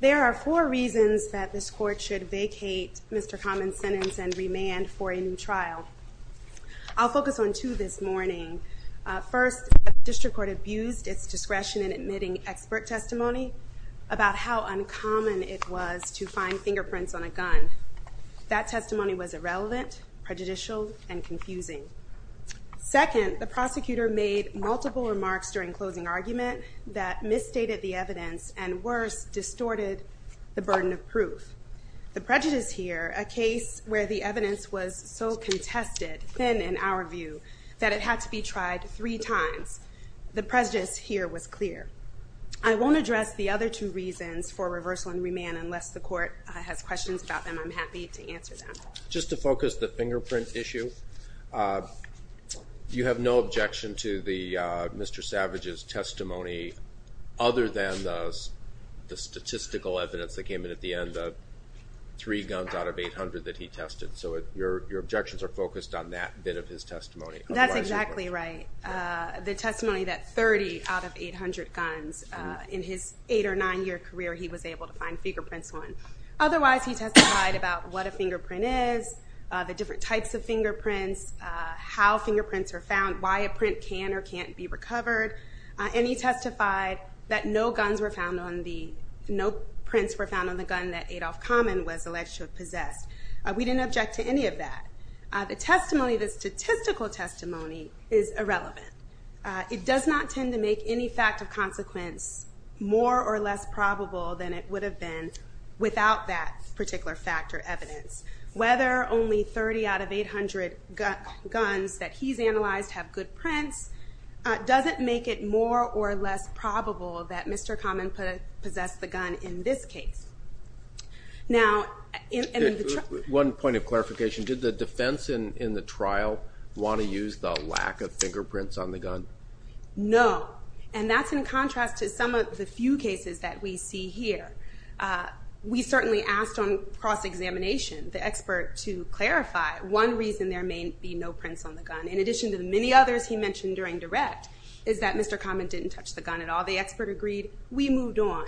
There are four reasons that this court should vacate Mr. Common's sentence and remand for a new trial. I'll focus on two this morning. First, the district court abused its discretion in admitting expert testimony about how uncommon it was to find fingerprints on a gun. That testimony was irrelevant, prejudicial, and confusing. Second, the prosecutor made multiple remarks during closing argument that misstated the evidence and, worse, distorted the burden of proof. The prejudice here, a case where the evidence was so contested, thin in our view, that it had to be tried three times. The prejudice here was clear. I won't address the other two reasons for reversal and remand unless the court has questions about them. I'm happy to answer them. Just to focus on the fingerprint issue, you have no objection to Mr. Savage's testimony other than the statistical evidence that came in at the end, the three guns out of 800 that he tested. So your objections are focused on that bit of his testimony. That's exactly right. The testimony that 30 out of 800 guns in his eight or nine year career he was able to find fingerprints on. Otherwise, he testified about what a fingerprint is, the different types of fingerprints, how fingerprints are found, why a print can or can't be recovered, and he testified that no prints were found on the gun that Adolph Common was alleged to have possessed. We didn't object to any of that. The testimony, the statistical testimony, is irrelevant. It does not tend to make any fact of consequence more or less probable than it would have been without that particular fact or evidence. Whether only 30 out of 800 guns that he's analyzed have good prints doesn't make it more or less probable that Mr. Common possessed the gun in this case. Now, and in the trial— One point of clarification. Did the defense in the trial want to use the lack of fingerprints on the gun? No. And that's in contrast to some of the few cases that we see here. We certainly asked on cross-examination the expert to clarify one reason there may be no prints on the gun. In addition to the many others he mentioned during direct is that Mr. Common didn't touch the gun at all. The expert agreed. We moved on.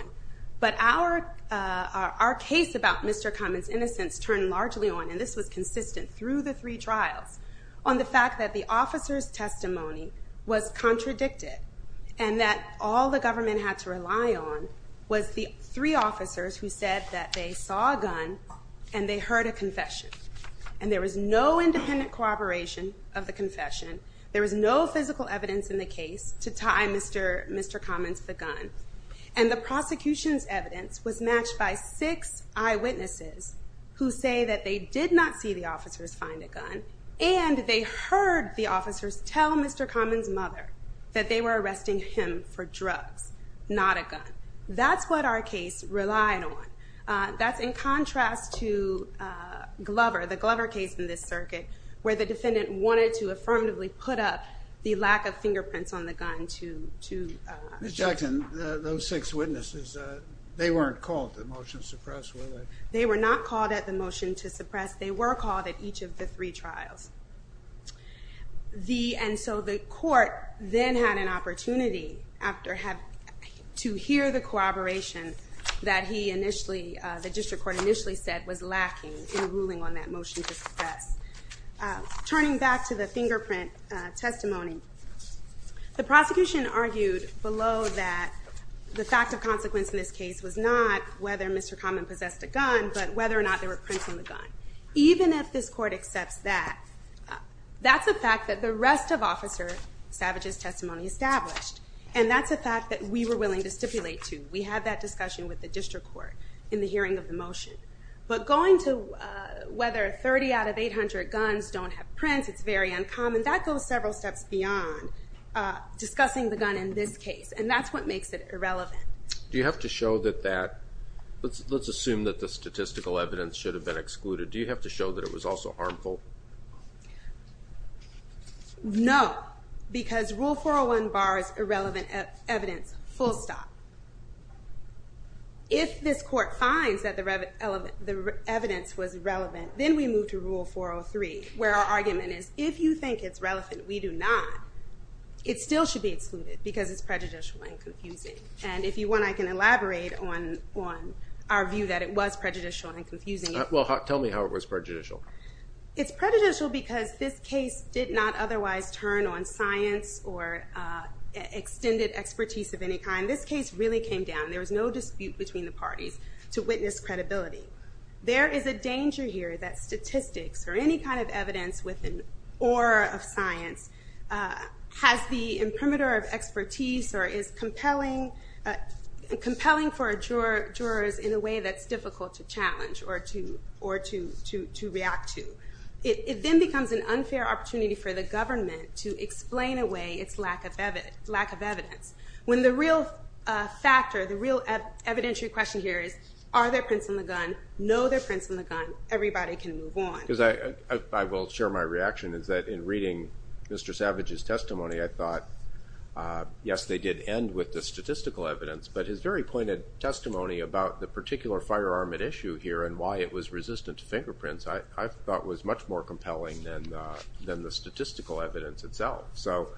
But our case about Mr. Common's innocence turned largely on—and this was consistent through the three trials—on the fact that the officer's testimony was contradicted and that all the government had to rely on was the three officers who said that they saw a gun and they heard a confession. And there was no independent corroboration of the confession. There was no physical evidence in the case to tie Mr. Common to the gun. And the prosecution's evidence was matched by six eyewitnesses who say that they did not see the officers find a gun and they heard the officers tell Mr. Common's mother that they were arresting him for drugs, not a gun. That's what our case relied on. That's in contrast to Glover, the Glover case in this circuit, where the defendant wanted to affirmatively put up the lack of fingerprints on the gun to— Ms. Jackson, those six witnesses, they weren't called to the motion to suppress, were they? They were not called at the motion to suppress. They were called at each of the three trials. And so the court then had an opportunity to hear the corroboration that the district court initially said was lacking in ruling on that motion to suppress. Turning back to the fingerprint testimony, the prosecution argued below that the fact of consequence in this case was not whether Mr. Common possessed a gun, but whether or not there were prints on the gun. Even if this court accepts that, that's a fact that the rest of Officer Savage's testimony established. And that's a fact that we were willing to stipulate, too. We had that discussion with the district court in the hearing of the motion. But going to whether 30 out of 800 guns don't have prints, it's very uncommon. That goes several steps beyond discussing the gun in this case, and that's what makes it irrelevant. Do you have to show that that—let's assume that the statistical evidence should have been excluded. Do you have to show that it was also harmful? No, because Rule 401 bars irrelevant evidence, full stop. If this court finds that the evidence was irrelevant, then we move to Rule 403, where our argument is, if you think it's relevant, we do not. It still should be excluded, because it's prejudicial and confusing. And if you want, I can elaborate on our view that it was prejudicial and confusing. Well, tell me how it was prejudicial. It's prejudicial because this case did not otherwise turn on science or extended expertise of any kind. This case really came down—there was no dispute between the parties—to witness credibility. There is a danger here that statistics or any kind of evidence with an aura of science has the imprimatur of expertise or is compelling for jurors in a way that's difficult to challenge or to react to. It then becomes an unfair opportunity for the government to explain away its lack of evidence. When the real factor, the real evidentiary question here is, are there prints on the gun? No, there are prints on the gun. Everybody can move on. I will share my reaction, is that in reading Mr. Savage's testimony, I thought, yes, they did end with the statistical evidence, but his very pointed testimony about the particular firearm at issue here and why it was resistant to fingerprints, I thought was much more compelling than the statistical evidence itself. So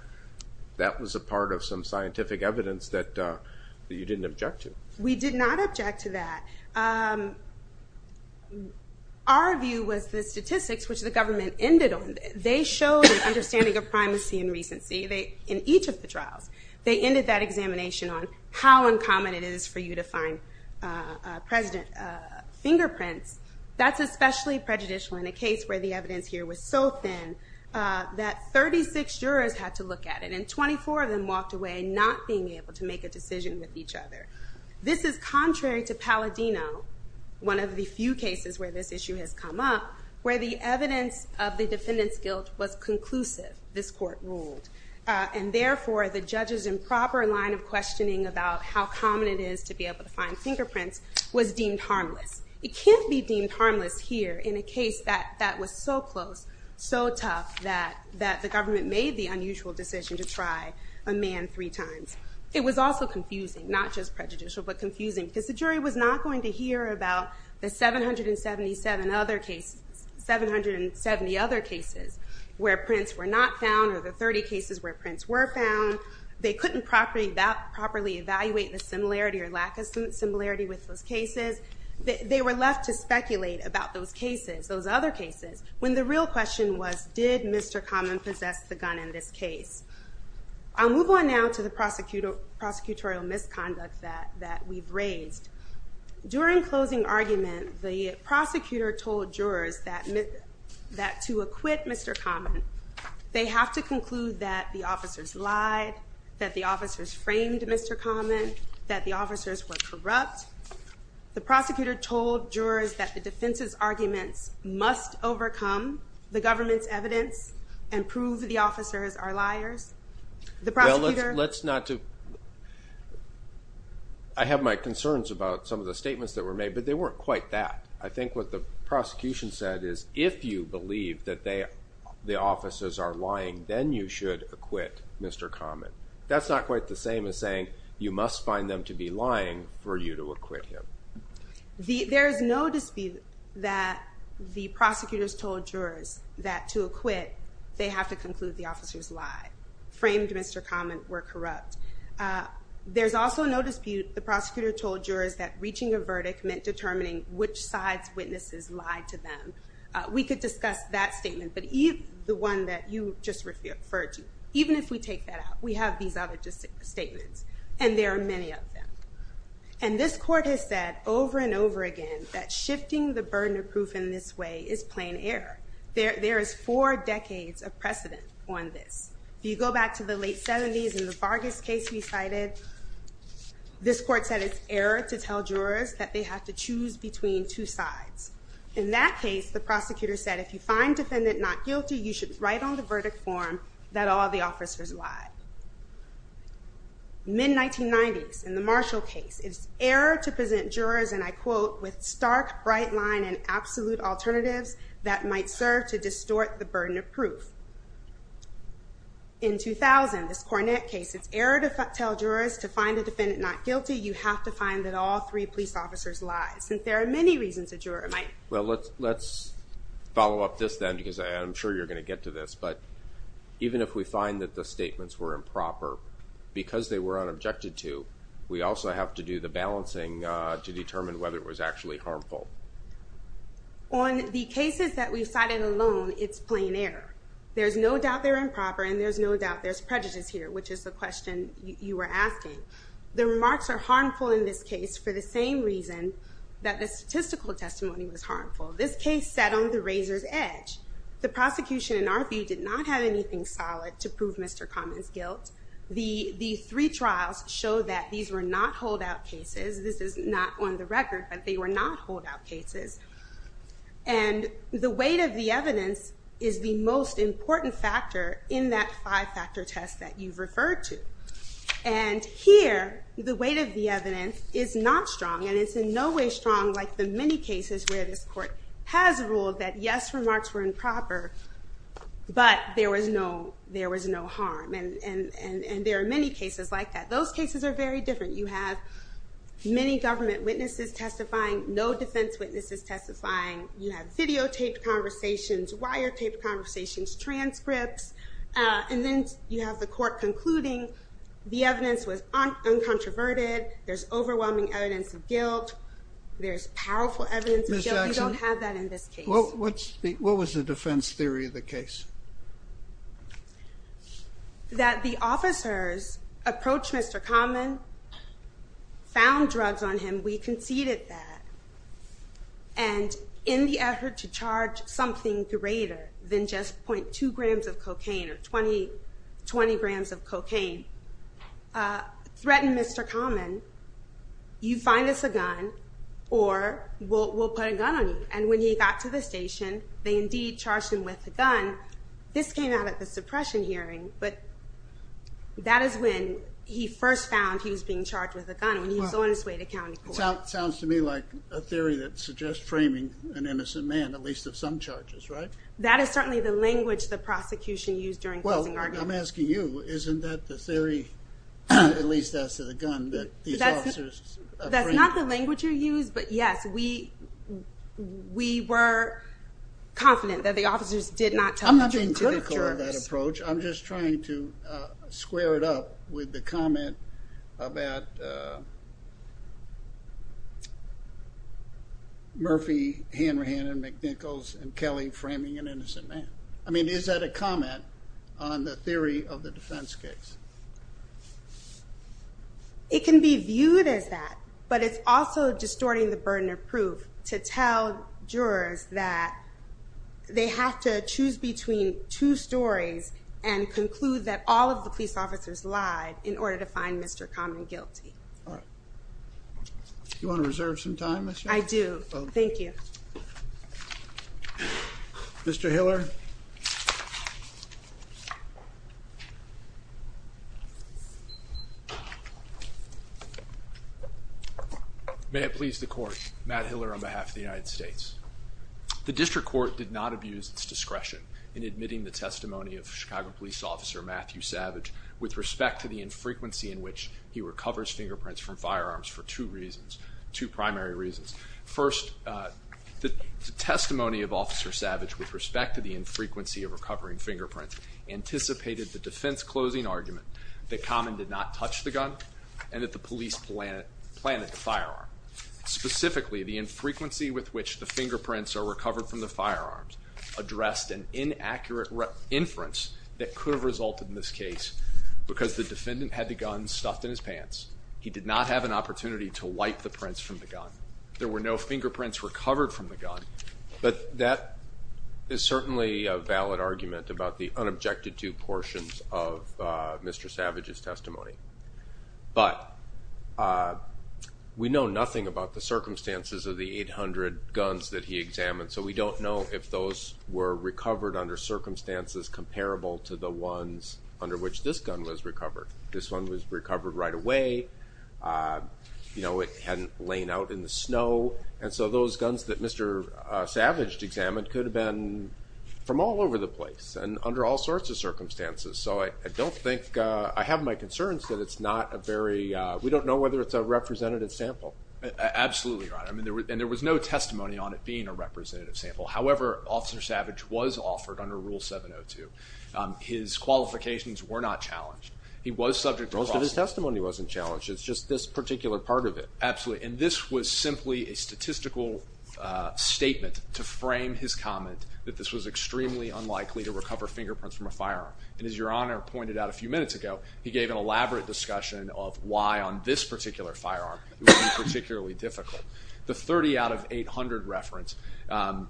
that was a part of some scientific evidence that you didn't object to. We did not object to that. Our view was the statistics, which the government ended on, they showed an understanding of primacy and recency in each of the trials. They ended that examination on how uncommon it is for you to find fingerprints. That's especially prejudicial in a case where the evidence here was so thin that 36 jurors had to look at it, and 24 of them walked away not being able to make a decision with each other. This is contrary to Palladino, one of the few cases where this issue has come up, where the evidence of the defendant's guilt was conclusive, this court ruled. And therefore, the judge's improper line of questioning about how common it is to be able to find fingerprints was deemed harmless. It can't be deemed harmless here in a case that was so close, so tough, that the government made the unusual decision to try a man three times. It was also confusing, not just prejudicial, but confusing, because the jury was not going to hear about the 770 other cases where prints were not found, or the 30 cases where prints were found. They couldn't properly evaluate the similarity or lack of similarity with those cases. They were left to speculate about those cases, those other cases, when the real question was, did Mr. Common possess the gun in this case? I'll move on now to the prosecutorial misconduct that we've raised. During closing argument, the prosecutor told jurors that to acquit Mr. Common, they have to conclude that the officers lied, that the officers framed Mr. Common, that the officers were corrupt. The prosecutor told jurors that the defense's arguments must overcome the government's evidence and prove the officers are liars. The prosecutor... Well, let's not... I have my concerns about some of the statements that were made, but they weren't quite that. I think what the prosecution said is, if you believe that the officers are lying, then you should acquit Mr. Common. That's not quite the same as saying, you must find them to be lying for you to acquit him. There's no dispute that the prosecutors told jurors that to acquit, they have to conclude the officers lied, framed Mr. Common, were corrupt. There's also no dispute the prosecutor told jurors that reaching a verdict meant determining which side's witnesses lied to them. We could discuss that statement, but the one that you just referred to, even if we take that out, we have these other statements, and there are many of them. And this court has said over and over again that shifting the burden of proof in this way is plain error. There is four decades of precedent on this. If you go back to the late 70s in the Vargas case we cited, this court said it's error to tell jurors that they have to choose between two sides. In that case, the prosecutor said, if you find defendant not guilty, you should write on the verdict form that all the officers lied. Mid-1990s, in the Marshall case, it's error to present jurors, and I quote, with stark bright line and absolute alternatives that might serve to distort the burden of proof. In 2000, this Cornett case, it's error to tell jurors to find the defendant not guilty, you have to find that all three police officers lied, since there are many reasons a juror might. Well, let's follow up this then, because I'm sure you're going to get to this, but even if we find that the statements were improper, because they were unobjected to, we also have to do the balancing to determine whether it was actually harmful. On the cases that we've cited alone, it's plain error. There's no doubt they're improper, and there's no doubt there's prejudice here, which is the question you were asking. The remarks are harmful in this case for the same reason that the statistical testimony was harmful. This case sat on the razor's edge. The prosecution, in our view, did not have anything solid to prove Mr. Common's guilt. The three trials show that these were not holdout cases. This is not on the record, but they were not holdout cases. And the weight of the evidence is the most important factor in that five-factor test that you've referred to. And here, the weight of the evidence is not strong, and it's in no way strong like the many cases where this court has ruled that, yes, remarks were improper, but there was no harm. And there are many cases like that. Those cases are very different. You have many government witnesses testifying, no defense witnesses testifying. You have videotaped conversations, wiretaped conversations, transcripts. And then you have the court concluding the evidence was uncontroverted. There's overwhelming evidence of guilt. There's powerful evidence of guilt. We don't have that in this case. Ms. Jackson, what was the defense theory of the case? That the officers approached Mr. Common, found drugs on him. We conceded that. And in the effort to charge something greater than just 0.2 grams of cocaine or 20 grams of cocaine, threatened Mr. Common, you find us a gun or we'll put a gun on you. And when he got to the station, they indeed charged him with a gun. This came out at the suppression hearing, but that is when he first found he was being charged with a gun, when he was on his way to county court. Sounds to me like a theory that suggests framing an innocent man, at least of some charges, right? That is certainly the language the prosecution used during closing arguments. I'm asking you. Isn't that the theory, at least as to the gun, that these officers framed him? That's not the language you used, but yes, we were confident that the officers did not charge him with drugs. I'm not being critical of that approach. I'm just trying to square it up with the comment about Murphy, Hanrahan, and McNichols, and Kelly framing an innocent man. I mean, is that a comment on the theory of the defense case? It can be viewed as that, but it's also distorting the burden of proof to tell jurors that they have to choose between two stories and conclude that all of the police officers lied in order to find Mr. Common guilty. All right. Do you want to reserve some time? I do. Thank you. Mr. Hiller? May it please the court. Matt Hiller on behalf of the United States. The district court did not abuse its discretion in admitting the testimony of Chicago police officer Matthew Savage with respect to the infrequency in which he recovers fingerprints from firearms for two reasons, two primary reasons. First, the testimony of Officer Savage with respect to the infrequency of recovering fingerprints anticipated the defense closing argument that Common did not touch the gun and that the police planted the firearm. Specifically, the infrequency with which the fingerprints are recovered from the firearms addressed an inaccurate inference that could have resulted in this case because the defendant had the gun stuffed in his pants. There were no fingerprints recovered from the gun, but that is certainly a valid argument about the unobjected to portions of Mr. Savage's testimony. But we know nothing about the circumstances of the 800 guns that he examined, so we don't know if those were recovered under circumstances comparable to the ones under which this gun was recovered. This one was recovered right away. You know, it hadn't lain out in the snow, and so those guns that Mr. Savage examined could have been from all over the place and under all sorts of circumstances, so I don't think, I have my concerns that it's not a very, we don't know whether it's a representative sample. Absolutely, Your Honor, and there was no testimony on it being a representative sample. However, Officer Savage was offered under Rule 702. His qualifications were not challenged. Most of his testimony wasn't challenged. It's just this particular part of it. Absolutely, and this was simply a statistical statement to frame his comment that this was extremely unlikely to recover fingerprints from a firearm. And as Your Honor pointed out a few minutes ago, he gave an elaborate discussion of why on this particular firearm it would be particularly difficult. The 30 out of 800 reference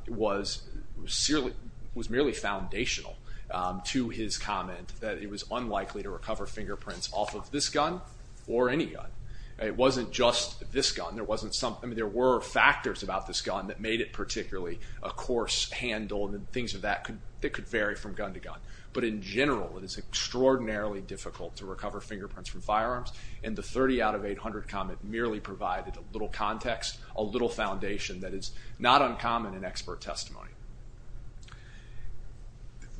was merely foundational to his comment that it was unlikely to recover fingerprints off of this gun or any gun. It wasn't just this gun. There were factors about this gun that made it particularly a coarse handle and things of that could vary from gun to gun. But in general, it is extraordinarily difficult to recover fingerprints from firearms, and the 30 out of 800 comment merely provided a little context, a little foundation that is not uncommon in expert testimony.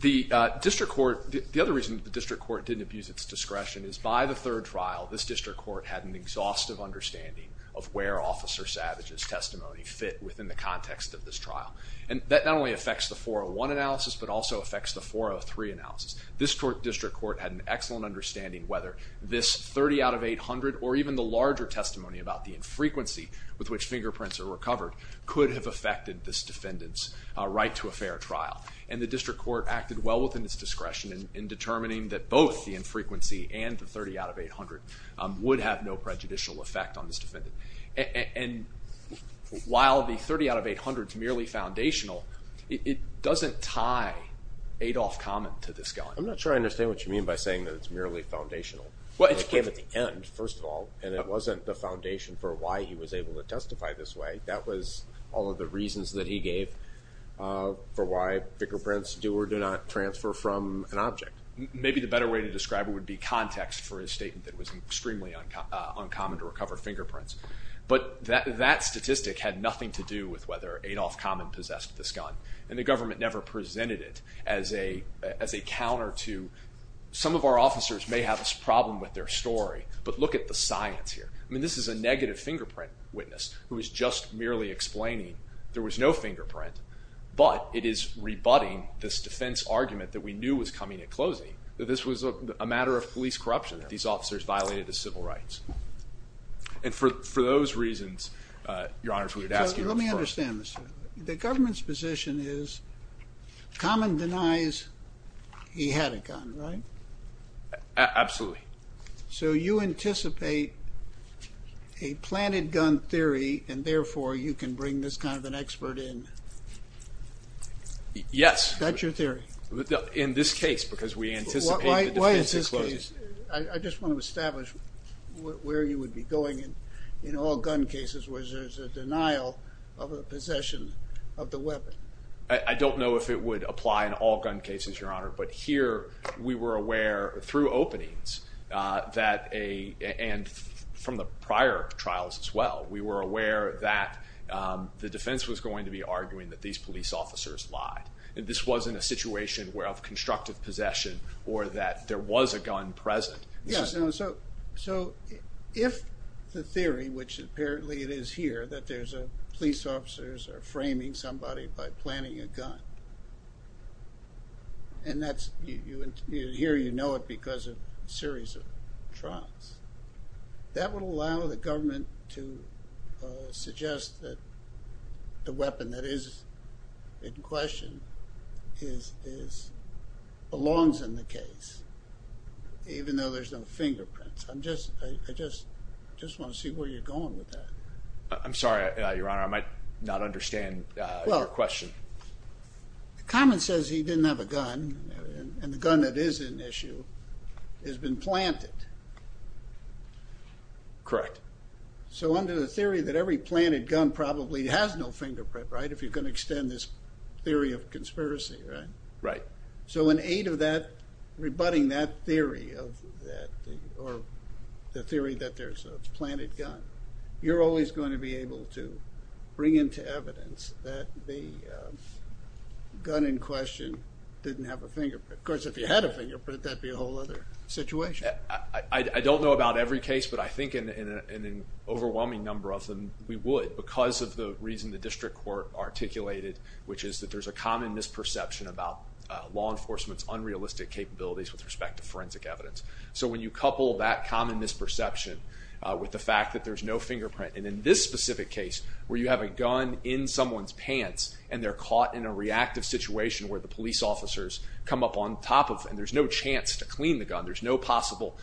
The district court, the other reason that the district court didn't abuse its discretion is by the third trial, this district court had an exhaustive understanding of where Officer Savage's testimony fit within the context of this trial. And that not only affects the 401 analysis, but also affects the 403 analysis. This district court had an excellent understanding whether this 30 out of 800 or even the larger testimony about the infrequency with which fingerprints are recovered could have affected this defendant's right to a fair trial. And the district court acted well within its discretion in determining that both the infrequency and the 30 out of 800 would have no prejudicial effect on this defendant. And while the 30 out of 800 is merely foundational, it doesn't tie Adolph Common to this gun. I'm not sure I understand what you mean by saying that it's merely foundational. It came at the end, first of all, and it wasn't the foundation for why he was able to testify this way. That was all of the reasons that he gave for why fingerprints do or do not transfer from an object. Maybe the better way to describe it would be context for his statement that it was extremely uncommon to recover fingerprints. But that statistic had nothing to do with whether Adolph Common possessed this gun. And the government never presented it as a counter to some of our officers may have a problem with their story, but look at the science here. I mean, this is a negative fingerprint witness who is just merely explaining there was no fingerprint, but it is rebutting this defense argument that we knew was coming at closing that this was a matter of police corruption, that these officers violated the civil rights. And for those reasons, Your Honor, if we would ask you first. Let me understand this. The government's position is Common denies he had a gun, right? Absolutely. So you anticipate a planted gun theory and therefore you can bring this kind of an expert in? Yes. That's your theory? In this case, because we anticipate the defense is closing. Why is this case? I just want to establish where you would be going in all gun cases where there's a denial of a possession of the weapon. I don't know if it would apply in all gun cases, Your Honor, but here we were aware through openings that a, and from the prior trials as well, we were aware that the defense was going to be arguing that these police officers lied. This wasn't a situation where of constructive possession or that there was a gun present. So if the theory, which apparently it is here that there's a police officers are framing somebody by planning a gun and that's you hear, you know, it because of a series of trials that would allow the government to suggest that the weapon that is in question is, is belongs in the case, even though there's no fingerprints. I'm just, I just, just want to see where you're going with that. I'm sorry, Your Honor. I might not understand your question. Common says he didn't have a gun and the gun that is an issue has been planted. Correct. So under the theory that every planted gun probably has no fingerprint, right? If you're going to extend this theory of conspiracy, right? Right. So in aid of that, rebutting that theory of that or the theory that there's a planted gun, you're always going to be able to bring into evidence that the gun in question didn't have a fingerprint. Of course, if you had a fingerprint, that'd be a whole other situation. I don't know about every case, but I think in an overwhelming number of them, we would because of the reason the district court articulated, which is that there's a common misperception about law enforcement's unrealistic capabilities with respect to forensic evidence. So when you couple that common misperception with the fact that there's no fingerprint, and in this specific case where you have a gun in someone's pants and they're caught in a reactive situation where the police officers come up on top of and there's no chance to clean the gun, there's no possible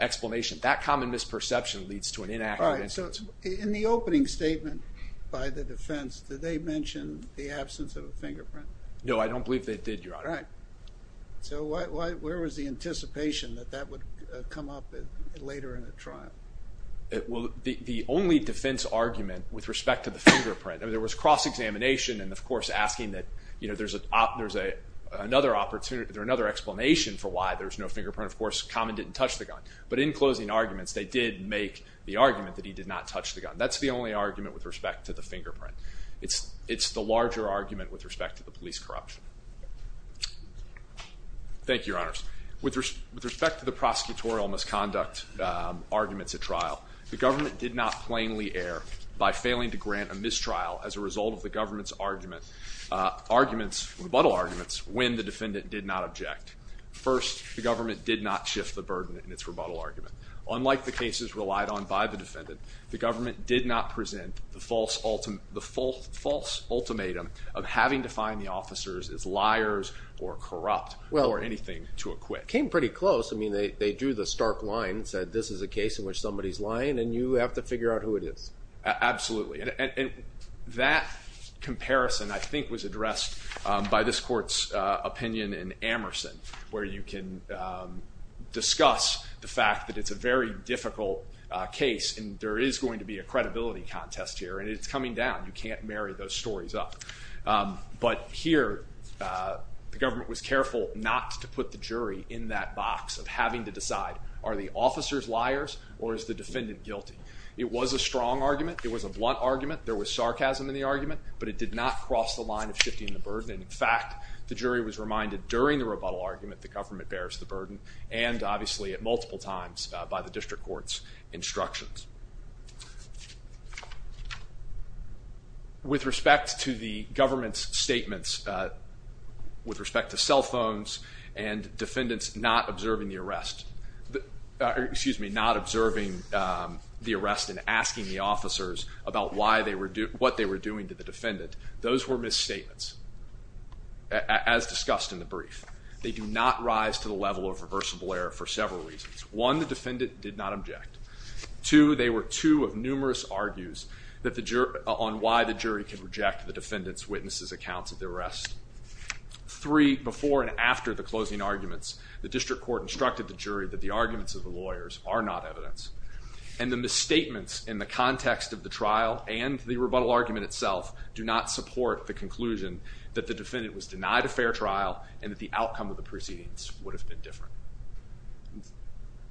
explanation. That common misperception leads to an inaccurate evidence. In the opening statement by the defense, did they mention the absence of a fingerprint? No, I don't believe they did, Your Honor. Right. So where was the anticipation that that would come up later in a trial? Well, the only defense argument with respect to the fingerprint, there was cross-examination and, of course, asking that there's another explanation for why there's no fingerprint. Of course, Common didn't touch the gun. But in closing arguments, they did make the argument that he did not touch the gun. That's the only argument with respect to the fingerprint. It's the larger argument with respect to the police corruption. Thank you, Your Honors. With respect to the prosecutorial misconduct arguments at trial, the government did not plainly err by failing to grant a mistrial as a result of the government's arguments, rebuttal arguments, when the defendant did not object. First, the government did not shift the burden in its rebuttal argument. Unlike the cases relied on by the defendant, the government did not present the false ultimatum of having to find the officers as liars or corrupt or anything to acquit. Came pretty close. I mean, they drew the stark line and said, this is a case in which somebody's lying and you have to figure out who it is. Absolutely. And that comparison, I think, was addressed by this court's opinion in Amerson, where you can discuss the fact that it's a very difficult case and there is going to be a credibility contest here. And it's coming down. You can't marry those stories up. But here, the government was careful not to put the jury in that box of having to decide, are the officers liars or is the defendant guilty? It was a strong argument. It was a blunt argument. There was sarcasm in the argument, but it did not cross the line of shifting the burden. In fact, the jury was reminded during the rebuttal argument the government bears the burden, and obviously at multiple times by the district court's instructions. With respect to the government's statements, with respect to cell phones and defendants not observing the arrest, excuse me, not observing the arrest and asking the officers about what they were doing to the defendant, those were misstatements, as discussed in the brief. They do not rise to the level of reversible error for several reasons. One, the defendant did not object. Two, they were two of numerous argues on why the jury can reject the defendant's witness's accounts of the arrest. Three, before and after the closing arguments, the district court instructed the jury that the arguments of the lawyers are not evidence. And the misstatements in the context of the trial and the rebuttal argument itself do not support the conclusion that the defendant was denied a fair trial and that the outcome of the proceedings would have been different.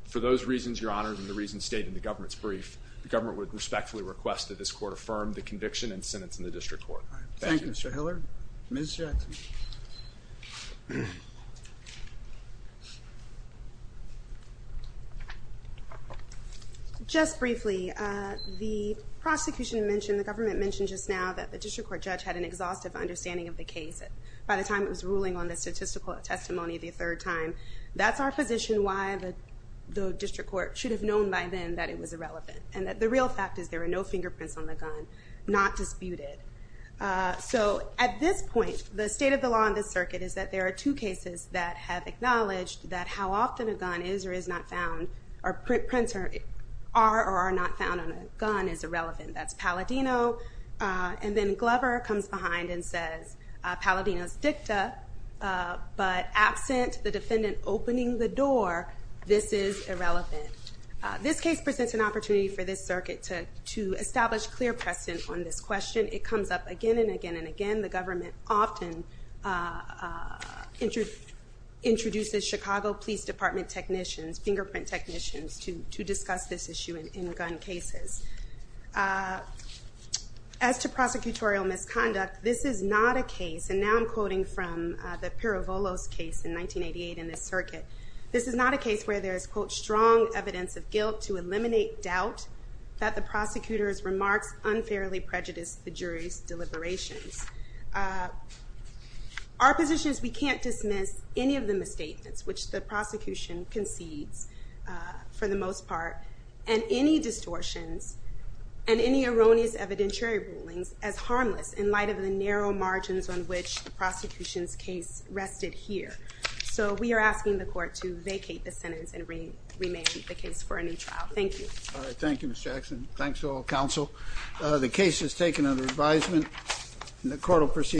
For those reasons, Your Honor, and the reasons stated in the government's brief, the government would respectfully request that this court affirm the conviction and sentence in the district court. Thank you. Thank you, Mr. Hiller. Ms. Jackson. Just briefly, the prosecution mentioned, the government mentioned just now that the district court judge had an exhaustive understanding of the case. By the time it was ruling on the statistical testimony the third time, that's our position why the district court should have known by then that it was irrelevant. And the real fact is there were no fingerprints on the gun, not disputed. So at this point, the state of the law in this circuit is that there are two cases that have acknowledged that how often a gun is or is not found, or prints are or are not found on a gun is irrelevant. That's Palladino, and then Glover comes behind and says Palladino's dicta, but absent the defendant opening the door, this is irrelevant. This case presents an opportunity for this circuit to establish clear precedent on this question. It comes up again and again and again. The government often introduces Chicago Police Department technicians, fingerprint technicians, to discuss this issue in gun cases. As to prosecutorial misconduct, this is not a case, and now I'm quoting from the Pirovolos case in 1988 in this circuit, this is not a case where there is, quote, strong evidence of guilt to eliminate doubt that the prosecutor's remarks unfairly prejudiced the jury's deliberations. Our position is we can't dismiss any of the misstatements, which the prosecution concedes for the most part, and any distortions and any erroneous evidentiary rulings as harmless in light of the narrow margins on which the prosecution's case rested here. So we are asking the court to vacate the sentence and remand the case for a new trial. Thank you. All right. Thank you, Ms. Jackson. Thanks to all counsel. The case is taken under advisement.